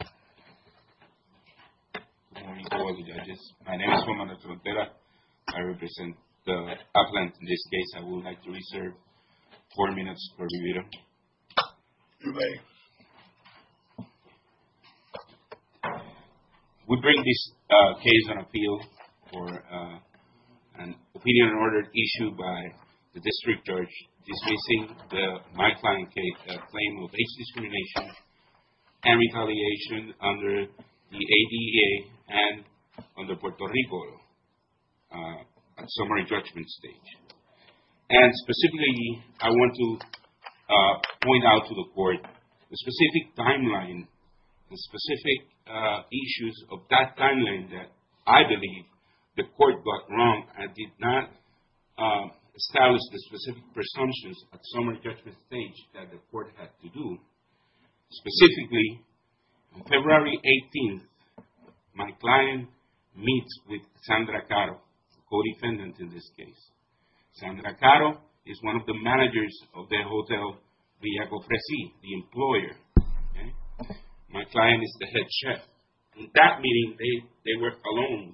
Good morning to all the judges. My name is Juan Manuel Torrontera. I represent the appellant in this case. I would like to reserve four minutes for review. You may. We bring this case on appeal for an opinion on order issued by the district judge dismissing the my client claim of age discrimination and retaliation under the ADA and under Puerto Rico at summary judgment stage. And specifically, I want to point out to the court the specific timeline, the specific issues of that timeline that I believe the court got wrong and did not establish the specific presumptions at summary judgment stage that the court had to do. Specifically, on February 18th, my client meets with Sandra Caro, co-defendant in this case. Sandra Caro is one of the managers of the hotel Villa Cofresi, the employer. My client is the head chef. In that meeting, they were alone.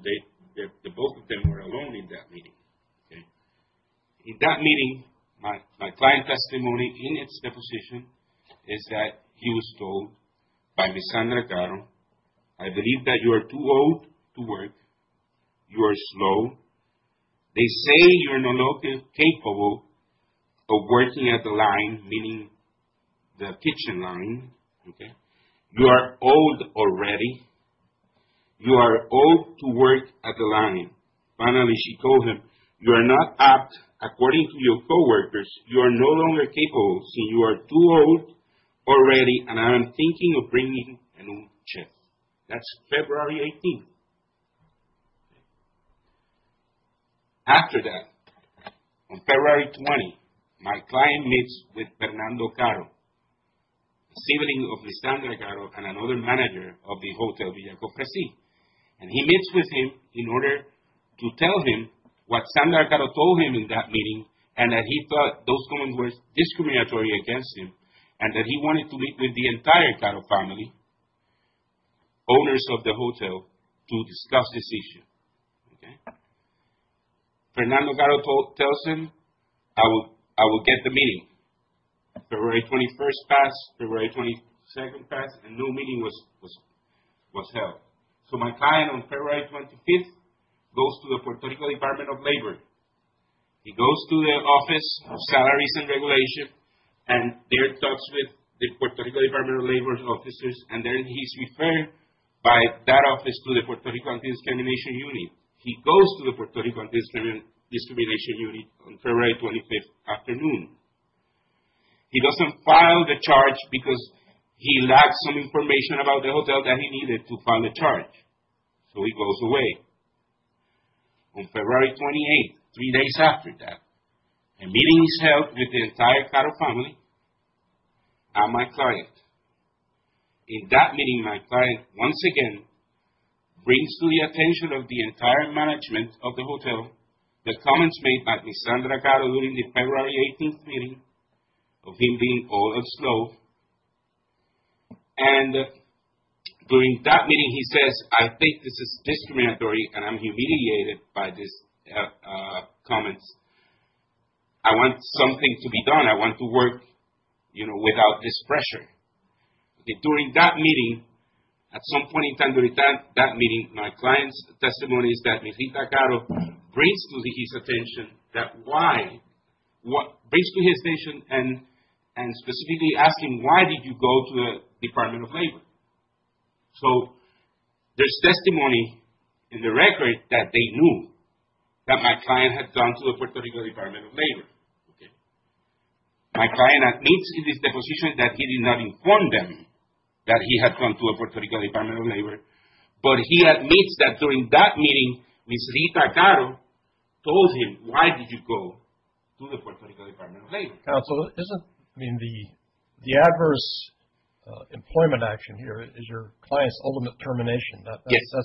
Both of them were alone in that meeting. In that meeting, my client's testimony in its deposition is that he was told by Ms. Sandra Caro, I believe that you are too old to work. You are slow. They say you are not capable of working at the line, meaning the kitchen line. You are old already. You are old to work at the line. Finally, she told him, you are not apt. That's February 18th. After that, on February 20th, my client meets with Fernando Caro, sibling of Ms. Sandra Caro and another manager of the hotel Villa Cofresi. And he meets with him in order to tell him what Sandra Caro told him in that meeting and that he thought those comments were discriminatory against him and that he wanted to meet with the entire Caro family. Owners of the hotel to discuss this issue. Fernando Caro tells him, I will get the meeting. February 21st passed. February 22nd passed. A new meeting was held. So, my client on February 25th goes to the Puerto Rico Department of Labor. He goes to the Office of Salaries and Regulations and there talks with the Puerto Rico Department of Labor officers and then he's referred by that office to the Puerto Rico Anti-Discrimination Unit. He goes to the Puerto Rico Anti-Discrimination Unit on February 25th afternoon. He doesn't file the charge because he lacks some information about the hotel that he needed to file the charge. So, he goes away. On February 28th, three days after that, a meeting is held with the entire Caro family and my client. In that meeting, my client once again brings to the attention of the entire management of the hotel the comments made by Ms. Sandra Caro during the February 18th meeting of him being all upslope. And during that meeting, he says, I think this is discriminatory and I'm humiliated by these comments. I want something to be done. I want to work, you know, without this pressure. During that meeting, at some point in time during that meeting, my client's testimony is that Ms. Sandra Caro brings to his attention that why, brings to his attention and specifically asking why did you go to the Department of Labor. So, there's testimony in the record that they knew that my client had gone to the Puerto Rico Department of Labor. My client admits in his deposition that he did not inform them that he had gone to the Puerto Rico Department of Labor, but he admits that during that meeting, Ms. Sandra Caro told him why did you go to the Puerto Rico Department of Labor. Now, so isn't, I mean, the adverse employment action here is your client's ultimate termination. That's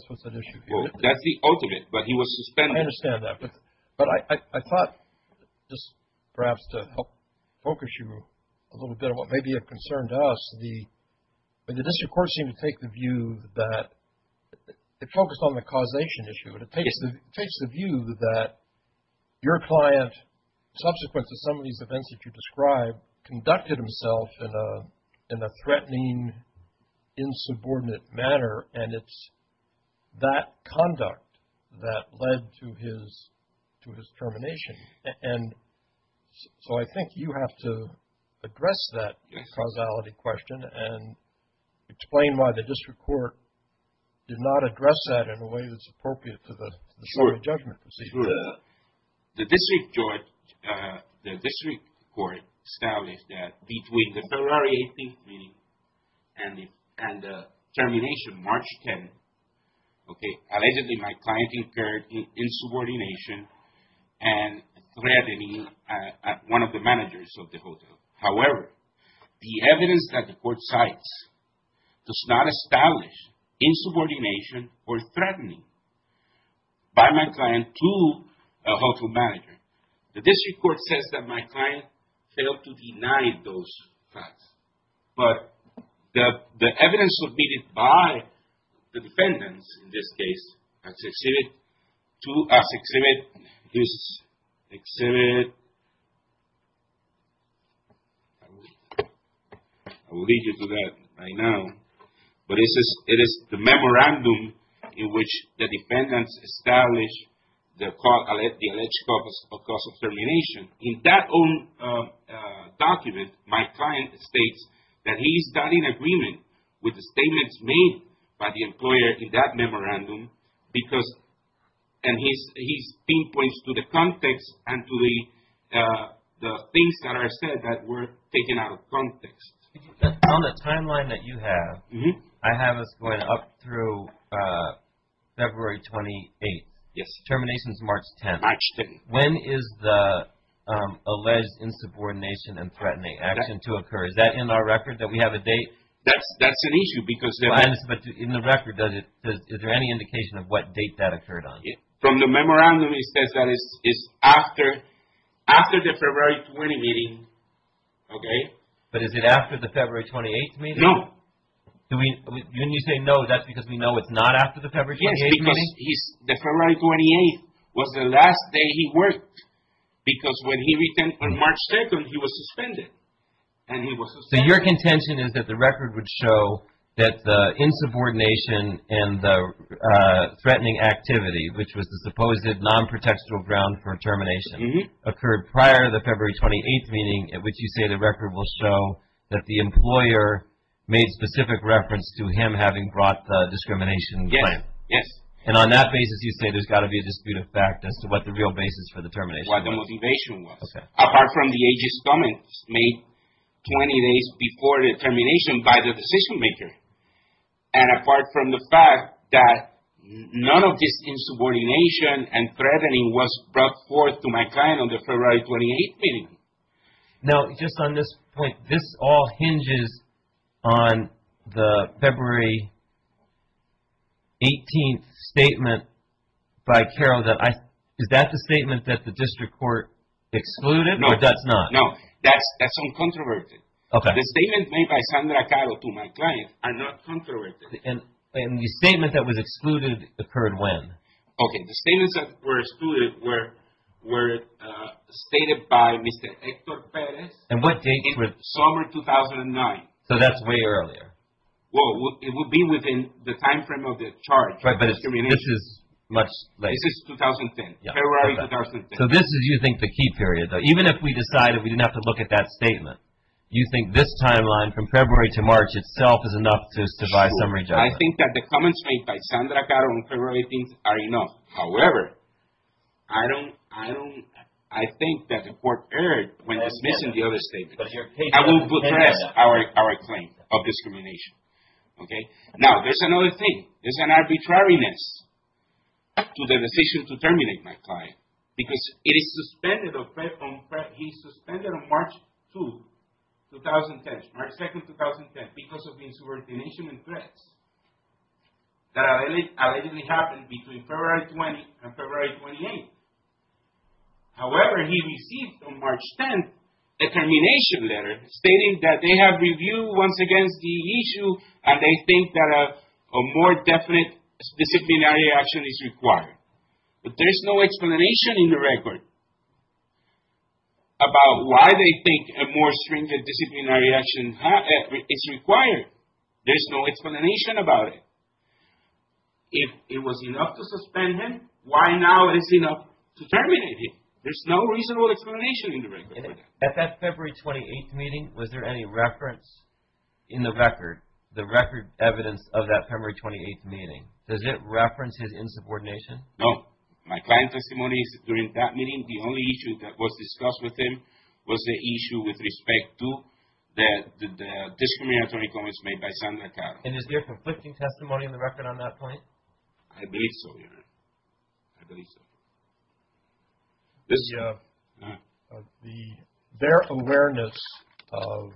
what's at issue here. That's the ultimate, but he was suspended. I understand that. But I thought just perhaps to help focus you a little bit on what may be of concern to us. The district court seemed to take the view that it focused on the causation issue. It takes the view that your client, subsequent to some of these events that you described, conducted himself in a threatening, insubordinate manner, and it's that conduct that led to his termination. So, I think you have to address that causality question and explain why the district court did not address that in a way that's appropriate to the jury judgment procedure. The district court established that between the February 18th meeting and the termination, March 10th, okay, allegedly my client incurred insubordination and threatening at one of the managers of the hotel. However, the evidence that the court cites does not establish insubordination or threatening by my client to a hotel manager. The district court says that my client failed to deny those facts. But the evidence submitted by the defendants, in this case, to exhibit this exhibit, I will lead you to that right now, but it is the memorandum in which the defendants established the alleged cause of termination. In that own document, my client states that he is not in agreement with the statements made by the employer in that memorandum, and he pinpoints to the context and to the things that are said that were taken out of context. On the timeline that you have, I have us going up through February 28th. Yes. Termination is March 10th. March 10th. When is the alleged insubordination and threatening action to occur? Is that in our record, that we have a date? That's an issue because... In the record, is there any indication of what date that occurred on? From the memorandum, it says that it's after the February 20th meeting, okay. But is it after the February 28th meeting? No. When you say no, that's because we know it's not after the February 28th meeting? Yes, because the February 28th was the last day he worked, because when he returned on March 2nd, he was suspended, and he was suspended. So your contention is that the record would show that the insubordination and the threatening activity, which was the supposed non-protextual ground for termination, occurred prior to the February 28th meeting, at which you say the record will show that the employer made specific reference to him having brought the discrimination claim. Yes, yes. And on that basis, you say there's got to be a dispute of fact as to what the real basis for the termination was. What the motivation was. Okay. Apart from the AG's comments made 20 days before the termination by the decision-maker, and apart from the fact that none of this insubordination and threatening was brought forth to my client on the February 28th meeting. Now, just on this point, this all hinges on the February 18th statement by Carol that I – Is that the statement that the district court excluded, or does not? No, that's uncontroverted. Okay. The statements made by Sandra Carol to my client are not controverted. And the statement that was excluded occurred when? Okay. The statements that were excluded were stated by Mr. Hector Perez in summer 2009. So that's way earlier. Well, it would be within the timeframe of the charge. Right, but this is much later. This is 2010, February 2010. So this is, you think, the key period. Even if we decided we didn't have to look at that statement, you think this timeline from February to March itself is enough to buy summary judgment? Sure. I think that the comments made by Sandra Carol on February 18th are enough. However, I don't – I think that the court erred when dismissing the other statements. I will address our claim of discrimination. Okay. Now, there's another thing. There's an arbitrariness to the decision to terminate my client. Because it is suspended on March 2, 2010, March 2, 2010, because of insubordination and threats that allegedly happened between February 20 and February 28. However, he received on March 10 a termination letter stating that they have reviewed once again the issue and they think that a more definite disciplinary action is required. But there's no explanation in the record about why they think a more stringent disciplinary action is required. There's no explanation about it. If it was enough to suspend him, why now is it enough to terminate him? There's no reasonable explanation in the record. At that February 28th meeting, was there any reference in the record, the record evidence of that February 28th meeting? Does it reference his insubordination? No. My client's testimony during that meeting, the only issue that was discussed with him was the issue with respect to the discriminatory comments made by Sandra Carol. And is there conflicting testimony in the record on that point? I believe so, Your Honor. I believe so. Their awareness of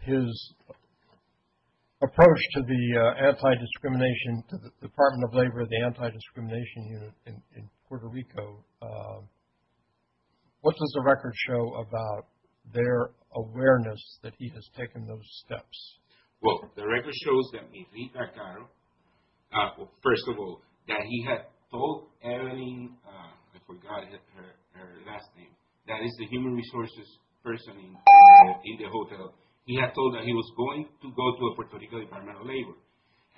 his approach to the anti-discrimination, to the Department of Labor, the anti-discrimination unit in Puerto Rico, what does the record show about their awareness that he has taken those steps? Well, the record shows that Rita Caro, first of all, that he had told Evelyn, I forgot her last name, that is the human resources person in the hotel, he had told her he was going to go to the Puerto Rico Department of Labor.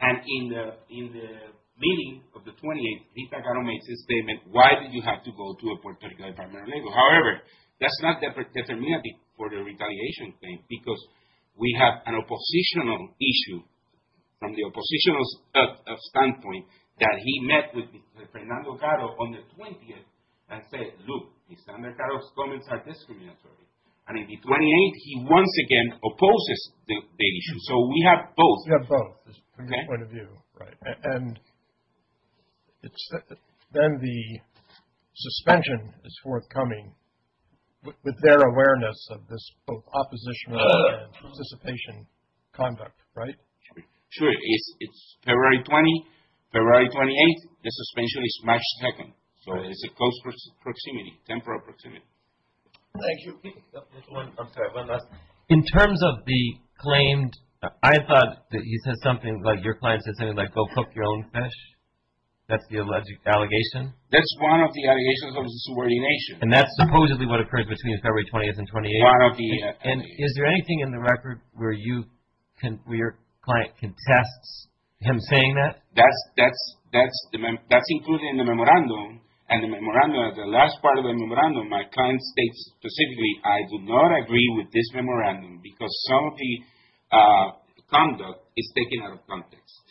And in the meeting of the 28th, Rita Caro makes a statement, why did you have to go to the Puerto Rico Department of Labor? However, that's not the definition for the retaliation claim, because we have an oppositional issue from the oppositional standpoint that he met with Fernando Caro on the 20th and said, look, Sandra Caro's comments are discriminatory. And on the 28th, he once again opposes the issue. So we have both. Right. And then the suspension is forthcoming with their awareness of this both oppositional and participation conduct, right? Sure. It's February 20th, February 28th, the suspension is March 2nd. So it is a close proximity, temporal proximity. Thank you. I'm sorry, one last. In terms of the claimed, I thought that he said something, like your client said something like go cook your own fish. That's the alleged allegation. That's one of the allegations of the subordination. And that's supposedly what occurred between February 20th and 28th. And is there anything in the record where your client contests him saying that? That's included in the memorandum. And the memorandum, the last part of the memorandum, my client states specifically, I do not agree with this memorandum because some of the conduct is taken out of context.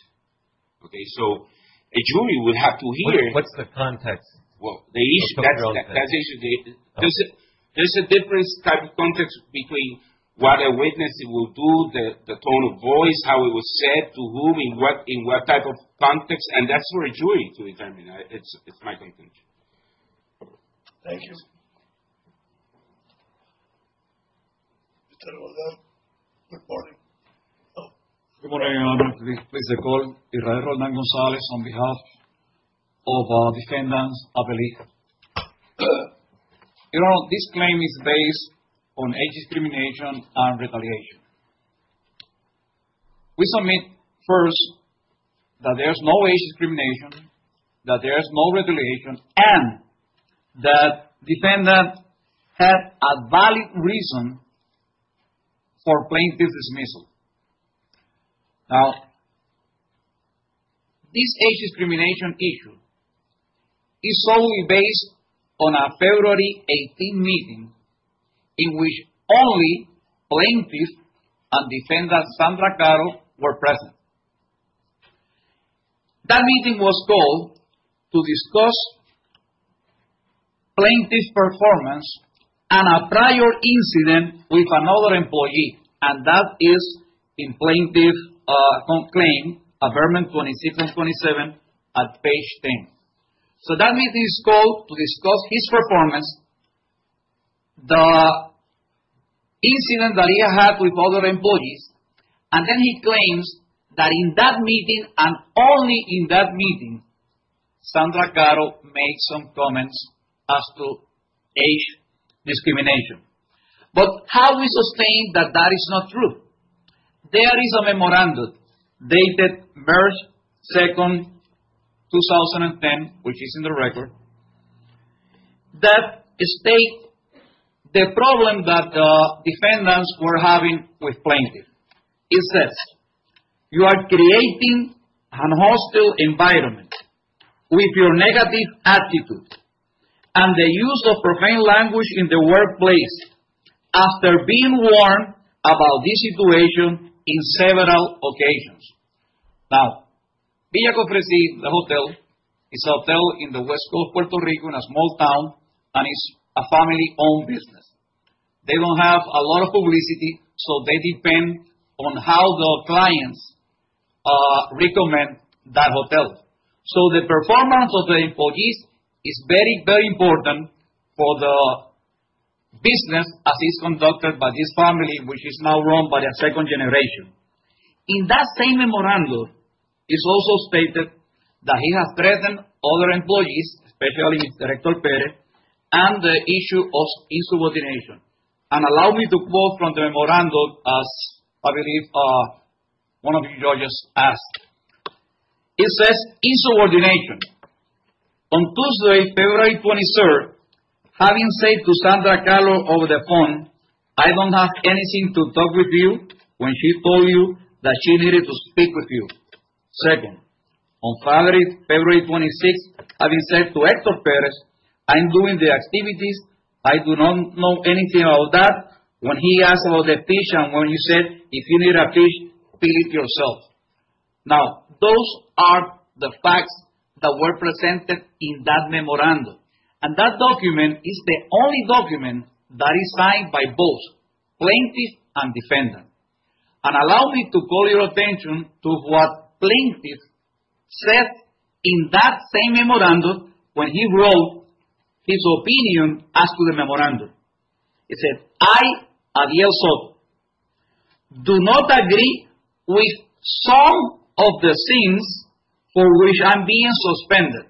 Okay. So a jury would have to hear. What's the context? Well, that's the issue. There's a different type of context between what a witness will do, the tone of voice, how it was said, to whom, in what type of context. And that's for a jury to determine. It's my conclusion. Thank you. Good morning. Good morning, Your Honor. Please recall. Your Honor, this claim is based on age discrimination and retaliation. We submit first that there's no age discrimination, that there's no retaliation, and that defendant had a valid reason for plaintiff's dismissal. Now, this age discrimination issue is solely based on a February 18th meeting in which only plaintiff and defendant Sandra Carroll were present. That meeting was called to discuss plaintiff's performance and a prior incident with another employee, and that is in plaintiff's claim, Amendment 26 and 27 at page 10. So that meeting is called to discuss his performance, the incident that he had with other employees, and then he claims that in that meeting and only in that meeting, Sandra Carroll made some comments as to age discrimination. But how do we sustain that that is not true? There is a memorandum dated March 2nd, 2010, which is in the record, that states the problem that defendants were having with plaintiff. It says, you are creating a hostile environment with your negative attitude and the use of profane language in the workplace after being warned about this situation on several occasions. Now, Villa Cofresi, the hotel, is a hotel in the west coast of Puerto Rico in a small town, and it's a family-owned business. They don't have a lot of publicity, so they depend on how the clients recommend that hotel. So the performance of the employees is very, very important for the business as it's conducted by this family, which is now run by a second generation. In that same memorandum, it's also stated that he has threatened other employees, especially Director Perez, and the issue of insubordination. And allow me to quote from the memorandum, as I believe one of the judges asked. It says, insubordination. On Tuesday, February 23rd, having said to Sandra Calo over the phone, I don't have anything to talk with you when she told you that she needed to speak with you. Second, on February 26th, having said to Hector Perez, I'm doing the activities. I do not know anything about that. When he asked about the fish and when he said, if you need a fish, fill it yourself. Now, those are the facts that were presented in that memorandum. And that document is the only document that is signed by both plaintiff and defendant. And allow me to call your attention to what plaintiff said in that same memorandum when he wrote his opinion as to the memorandum. He said, I, Ariel Soto, do not agree with some of the things for which I'm being suspended.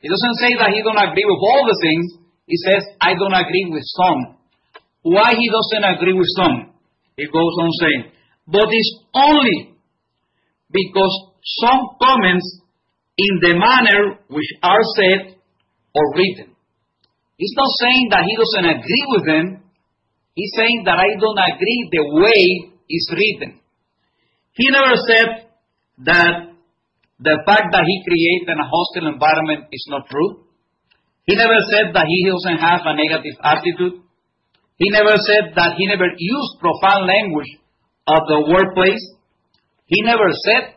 He doesn't say that he doesn't agree with all the things. He says, I don't agree with some. Why he doesn't agree with some, he goes on saying. But it's only because some comments in the manner which are said or written. He's not saying that he doesn't agree with them. He's saying that I don't agree the way it's written. He never said that the fact that he created a hostile environment is not true. He never said that he doesn't have a negative attitude. He never said that he never used profound language of the workplace. He never said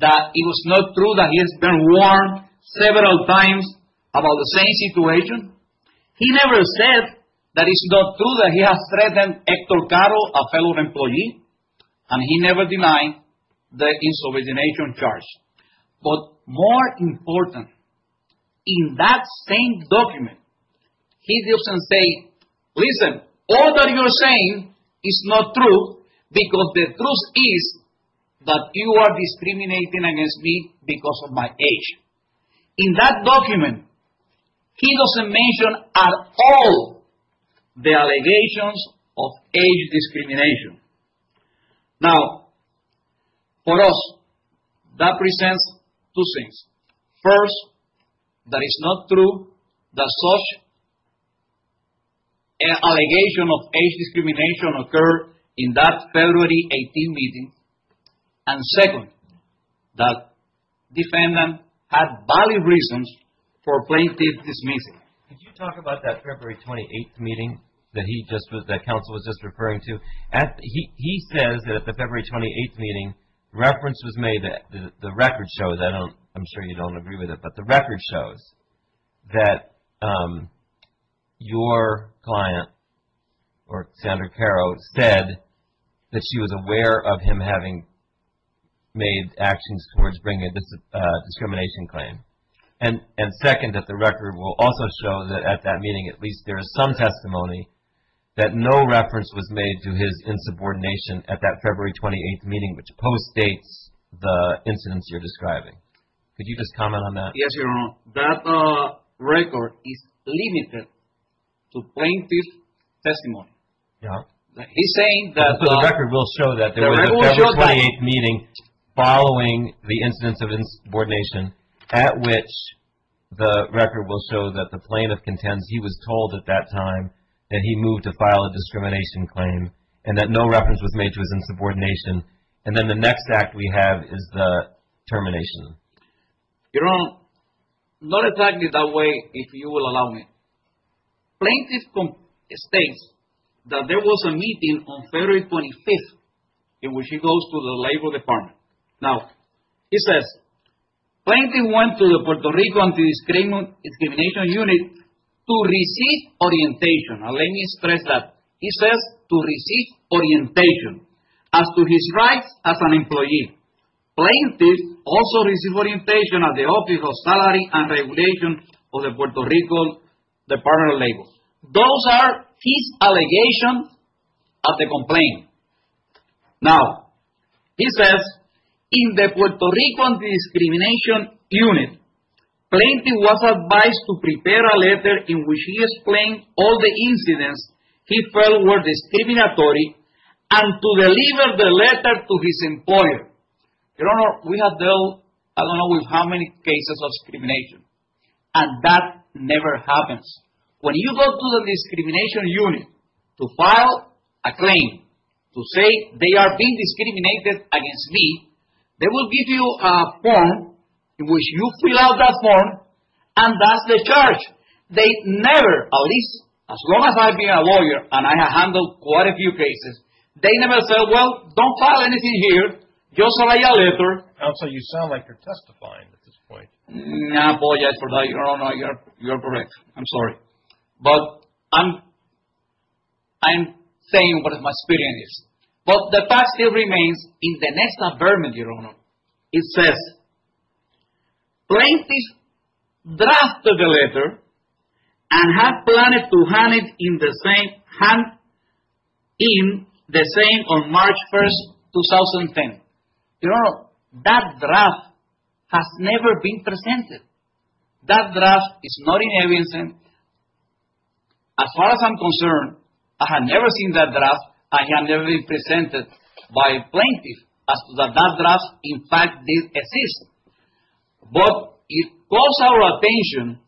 that it was not true that he has been warned several times about the same situation. He never said that it's not true that he has threatened Hector Caro, a fellow employee. And he never denied the insubordination charge. But more important, in that same document, he doesn't say, listen, all that you're saying is not true because the truth is that you are discriminating against me because of my age. In that document, he doesn't mention at all the allegations of age discrimination. Now, for us, that presents two things. First, that it's not true that such an allegation of age discrimination occurred in that February 18th meeting. And second, that defendant had valid reasons for plaintiff dismissal. Could you talk about that February 28th meeting that he just was, that counsel was just referring to? He says that at the February 28th meeting, reference was made, the record shows, I'm sure you don't agree with it, but the record shows that your client, or Senator Caro, said that she was aware of him having made actions towards bringing a discrimination claim. And second, that the record will also show that at that meeting, at least there is some testimony that no reference was made to his insubordination at that February 28th meeting, which post-dates the incidents you're describing. Could you just comment on that? Yes, Your Honor. That record is limited to plaintiff's testimony. He's saying that the record will show that at the February 28th meeting, following the incidents of insubordination, at which the record will show that the plaintiff contends he was told at that time that he moved to file a discrimination claim, and that no reference was made to his insubordination. And then the next act we have is the termination. Your Honor, not exactly that way, if you will allow me. Plaintiff states that there was a meeting on February 25th in which he goes to the Labor Department. Now, he says, Plaintiff went to the Puerto Rico Anti-Discrimination Unit to receive orientation. And let me stress that. He says to receive orientation as to his rights as an employee. Plaintiff also received orientation at the Office of Salary and Regulation of the Puerto Rico Department of Labor. Those are his allegations of the complaint. Now, he says, in the Puerto Rico Anti-Discrimination Unit, Plaintiff was advised to prepare a letter in which he explained all the incidents he felt were discriminatory and to deliver the letter to his employer. Your Honor, we have dealt, I don't know, with how many cases of discrimination, and that never happens. When you go to the Discrimination Unit to file a claim to say they are being discriminated against me, they will give you a form in which you fill out that form, and that's the charge. They never, at least as long as I've been a lawyer and I have handled quite a number of cases, they never say, well, don't file anything here, just write a letter. Counsel, you sound like you're testifying at this point. No, boy, Your Honor, you're correct. I'm sorry. But I'm saying what my feeling is. But the fact still remains in the next affirmative, Your Honor. It says, Plaintiff drafted the letter and had planned to hand it in the same on March 1st, 2010. Your Honor, that draft has never been presented. That draft is not in evidence. As far as I'm concerned, I have never seen that draft and it has never been presented by Plaintiff as to that draft in fact did exist. But it calls our attention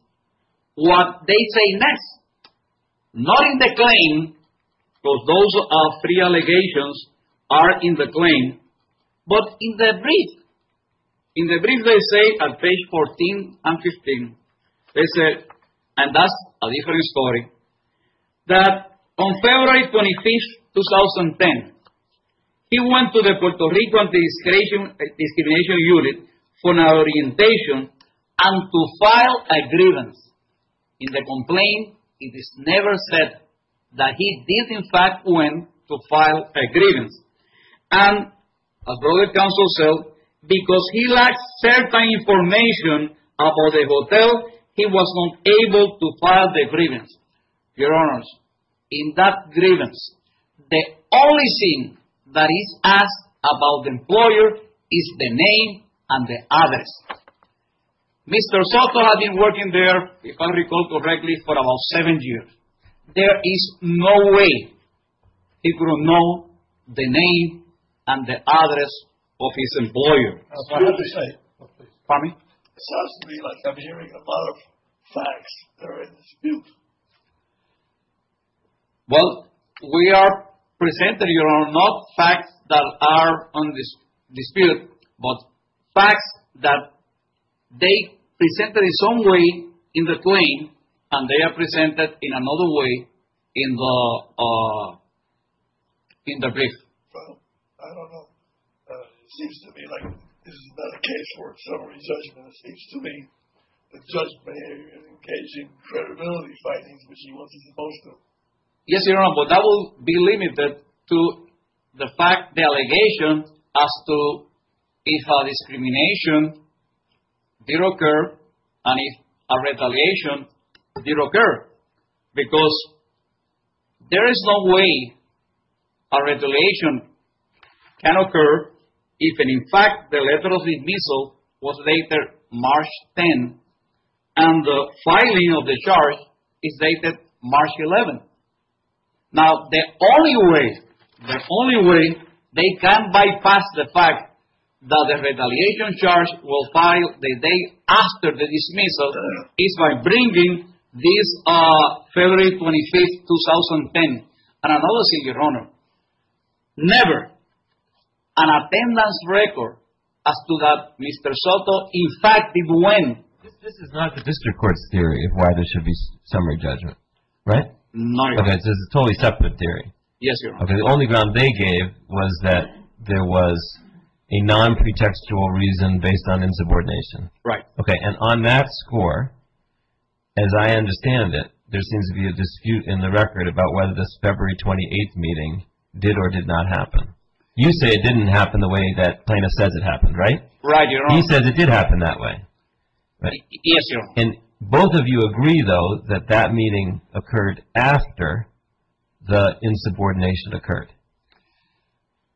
what they say next. Not in the claim, because those are three allegations are in the claim, but in the brief. In the brief they say at page 14 and 15, they said, and that's a different story, that on February 25th, 2010, he went to the Puerto Rican Discrimination Unit for an orientation and to file a grievance. In the complaint, it is never said that he did in fact went to file a grievance. And, as Brother Counsel said, because he lacked certain information about the hotel, he was not able to file the grievance. Your Honors, in that grievance, the only thing that is asked about the employer is the name and the address. Mr. Soto had been working there, if I recall correctly, for about seven years. There is no way he could have known the name and the address of his employer. It sounds to me like I'm hearing a lot of facts that are in dispute. Well, we are presenting, Your Honor, not facts that are in dispute, but facts that they presented in some way in the claim, and they are presented in another way in the brief. Well, I don't know. It seems to me like this is not a case for summary judgment. It seems to me that judge may engage in credibility findings, which he wasn't supposed to. Yes, Your Honor, but that will be limited to the fact, the allegation, as to if a discrimination did occur and if a retaliation did occur. Because there is no way a retaliation can occur if, in fact, the letter of dismissal was dated March 10 and the filing of the charge is dated March 11. Now, the only way they can bypass the fact that the retaliation charge will file the day after the dismissal is by bringing this February 25, 2010. And another thing, Your Honor, never an attendance record as to that Mr. Soto, in fact, did when. This is not the district court's theory of why there should be summary judgment, right? No, Your Honor. Yes, Your Honor. Okay, the only ground they gave was that there was a non-pretextual reason based on insubordination. Right. Okay, and on that score, as I understand it, there seems to be a dispute in the record about whether this February 28 meeting did or did not happen. You say it didn't happen the way that Plano says it happened, right? Right, Your Honor. He says it did happen that way, right? Yes, Your Honor. And both of you agree, though, that that meeting occurred after the insubordination occurred,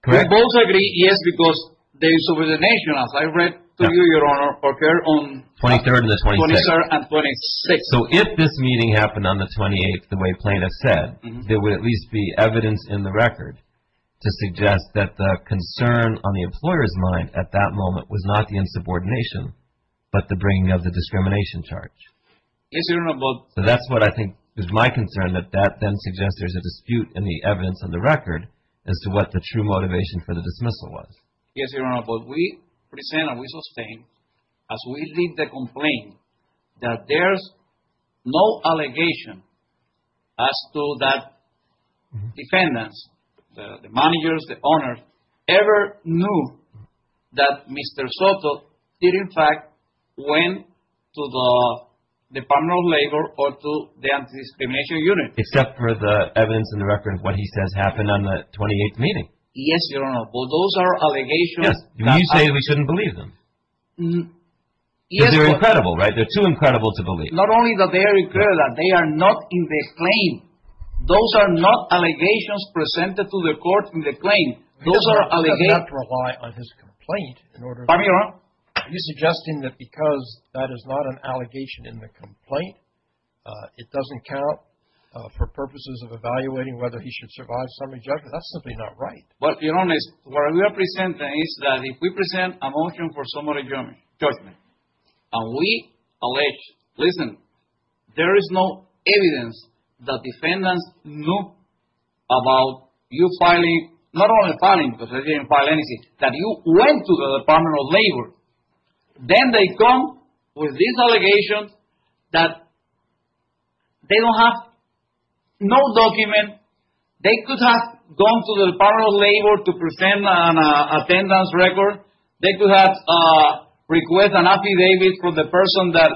correct? We both agree, yes, because the insubordination, as I read to you, Your Honor, occurred on 23rd and the 26th. 23rd and 26th. So if this meeting happened on the 28th the way Plano said, there would at least be evidence in the record to suggest that the concern on the employer's mind at that moment was not the insubordination but the bringing of the discrimination charge. Yes, Your Honor, but So that's what I think is my concern, that that then suggests there's a dispute in the evidence on the record as to what the true motivation for the dismissal was. Yes, Your Honor, but we present and we sustain, as we lead the complaint, that there's no allegation as to that defendants, the managers, the owners, ever knew that Mr. Soto did, in fact, went to the Department of Labor or to the Anti-Discrimination Unit. Except for the evidence in the record of what he says happened on the 28th meeting. Yes, Your Honor, but those are allegations. Yes. You say we shouldn't believe them. Yes, but Because they're incredible, right? They're too incredible to believe. Not only that they are incredible, they are not in the claim. Those are not allegations presented to the court in the claim. Those are allegations. We have to rely on his complaint in order to Pardon me, Your Honor. Are you suggesting that because that is not an allegation in the complaint, it doesn't count for purposes of evaluating whether he should survive summary judgment? That's simply not right. But, Your Honor, what we are presenting is that if we present a motion for summary judgment and we allege, listen, there is no evidence that defendants knew about you filing, not only filing, because they didn't file anything, that you went to the Department of Labor, then they come with these allegations that they don't have no document. They could have gone to the Department of Labor to present an attendance record. They could have requested an affidavit from the person that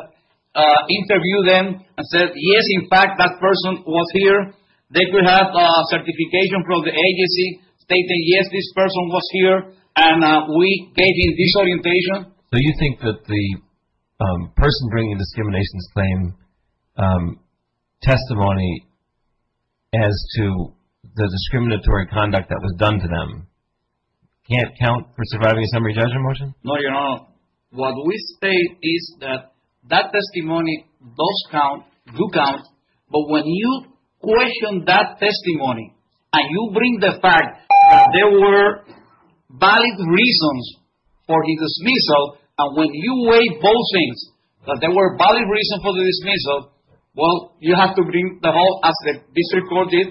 interviewed them and said, yes, in fact, that person was here. They could have a certification from the agency stating, yes, this person was here, and we gave him this orientation. So you think that the person bringing the discriminations claim testimony as to the discriminatory conduct that was done to them can't count for surviving a summary judgment motion? No, Your Honor. What we say is that that testimony does count, do count, but when you question that testimony and you bring the fact that there were valid reasons for the dismissal, and when you weigh both things, that there were valid reasons for the dismissal, well, you have to bring the whole, as the district court did,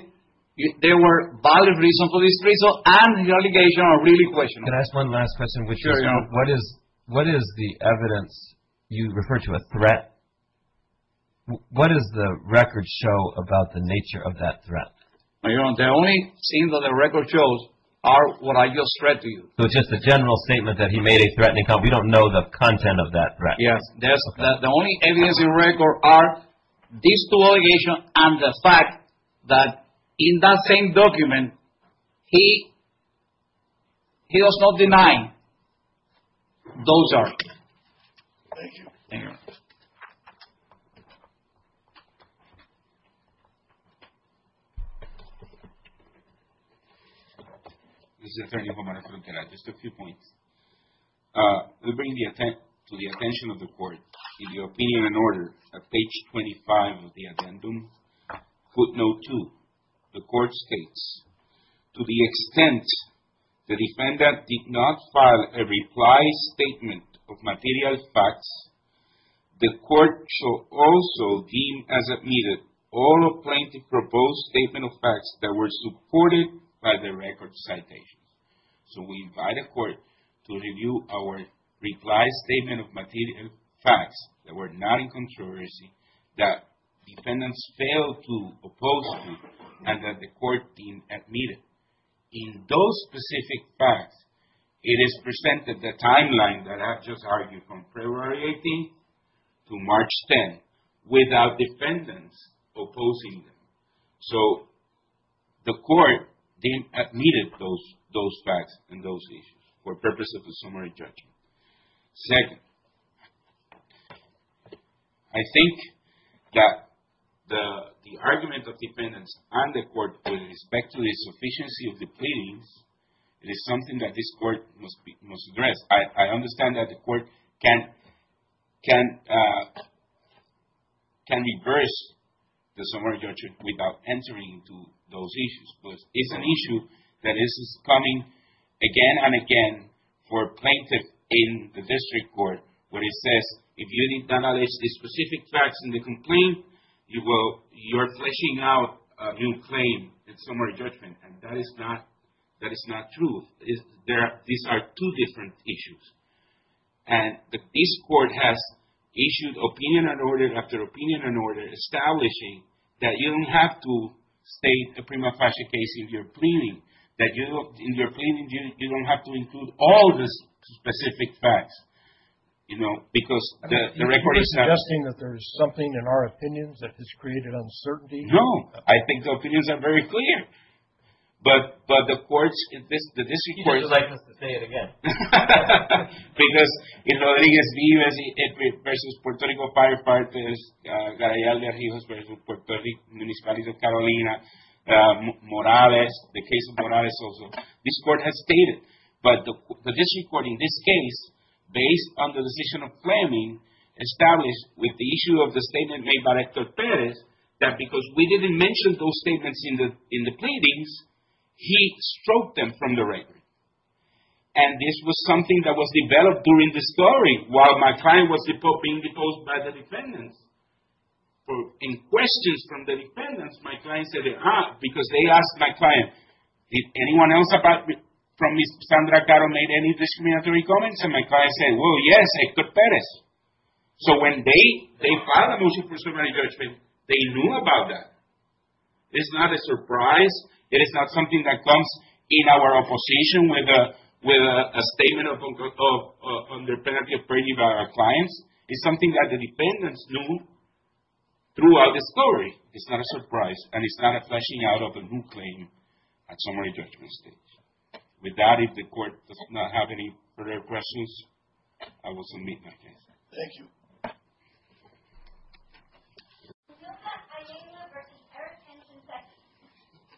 there were valid reasons for the dismissal and the allegations are really questionable. Can I ask one last question? Sure, Your Honor. What is the evidence you refer to as threat? What does the record show about the nature of that threat? Your Honor, the only thing that the record shows are what I just read to you. So it's just a general statement that he made a threatening comment. We don't know the content of that threat. Yes. The only evidence in record are these two allegations and the fact that in that same document he was not denying those arguments. Thank you. Thank you, Your Honor. This is Attorney Romero-Frontera. Just a few points. We bring to the attention of the court, in the opinion and order at page 25 of the addendum, footnote 2, the court states, to the extent the defendant did not file a reply statement of material facts, the court shall also deem as admitted all of plaintiff's proposed statement of facts that were supported by the record citations. So we invite the court to review our reply statement of material facts that were not in controversy, that defendants failed to oppose to, and that the court deem admitted. In those specific facts, it is presented the timeline that I've just argued from February 18th to March 10th without defendants opposing them. So the court deem admitted those facts and those issues for purpose of a summary judgment. Second, I think that the argument of defendants and the court with respect to the sufficiency of the pleadings is something that this court must address. I understand that the court can reverse the summary judgment without entering into those issues, but it's an issue that is coming again and again for plaintiff in the district court where it says if you need to acknowledge the specific facts in the complaint, you're fleshing out a new claim in summary judgment, and that is not true. These are two different issues. And this court has issued opinion and order after opinion and order, establishing that you don't have to state a prima facie case in your complaint. You don't have to include all the specific facts, you know, because the record is set. Are you suggesting that there is something in our opinions that has created uncertainty? No. I think the opinions are very clear, but the courts in this district court would like us to say it again. Because in Rodriguez-Vives versus Puerto Rico Firefighters, Garayal de Rivas versus Puerto Rico Municipalities of Carolina, Morales, this court has stated. But the district court in this case, based on the decision of Fleming, established with the issue of the statement made by Rector Perez that because we didn't mention those statements in the pleadings, he stroked them from the record. And this was something that was developed during the story while my client was being proposed by the defendants. In questions from the defendants, my client said, because they asked my client, did anyone else from Ms. Sandra Caro make any discriminatory comments? And my client said, well, yes, Hector Perez. So when they filed a motion for superintendent judgment, they knew about that. It's not a surprise. It is not something that comes in our opposition with a statement of under penalty of perjury by our clients. It's something that the defendants knew throughout the story. It's not a surprise. And it's not a fleshing out of a new claim at summary judgment stage. With that, if the court does not have any further questions, I will submit my case. Thank you.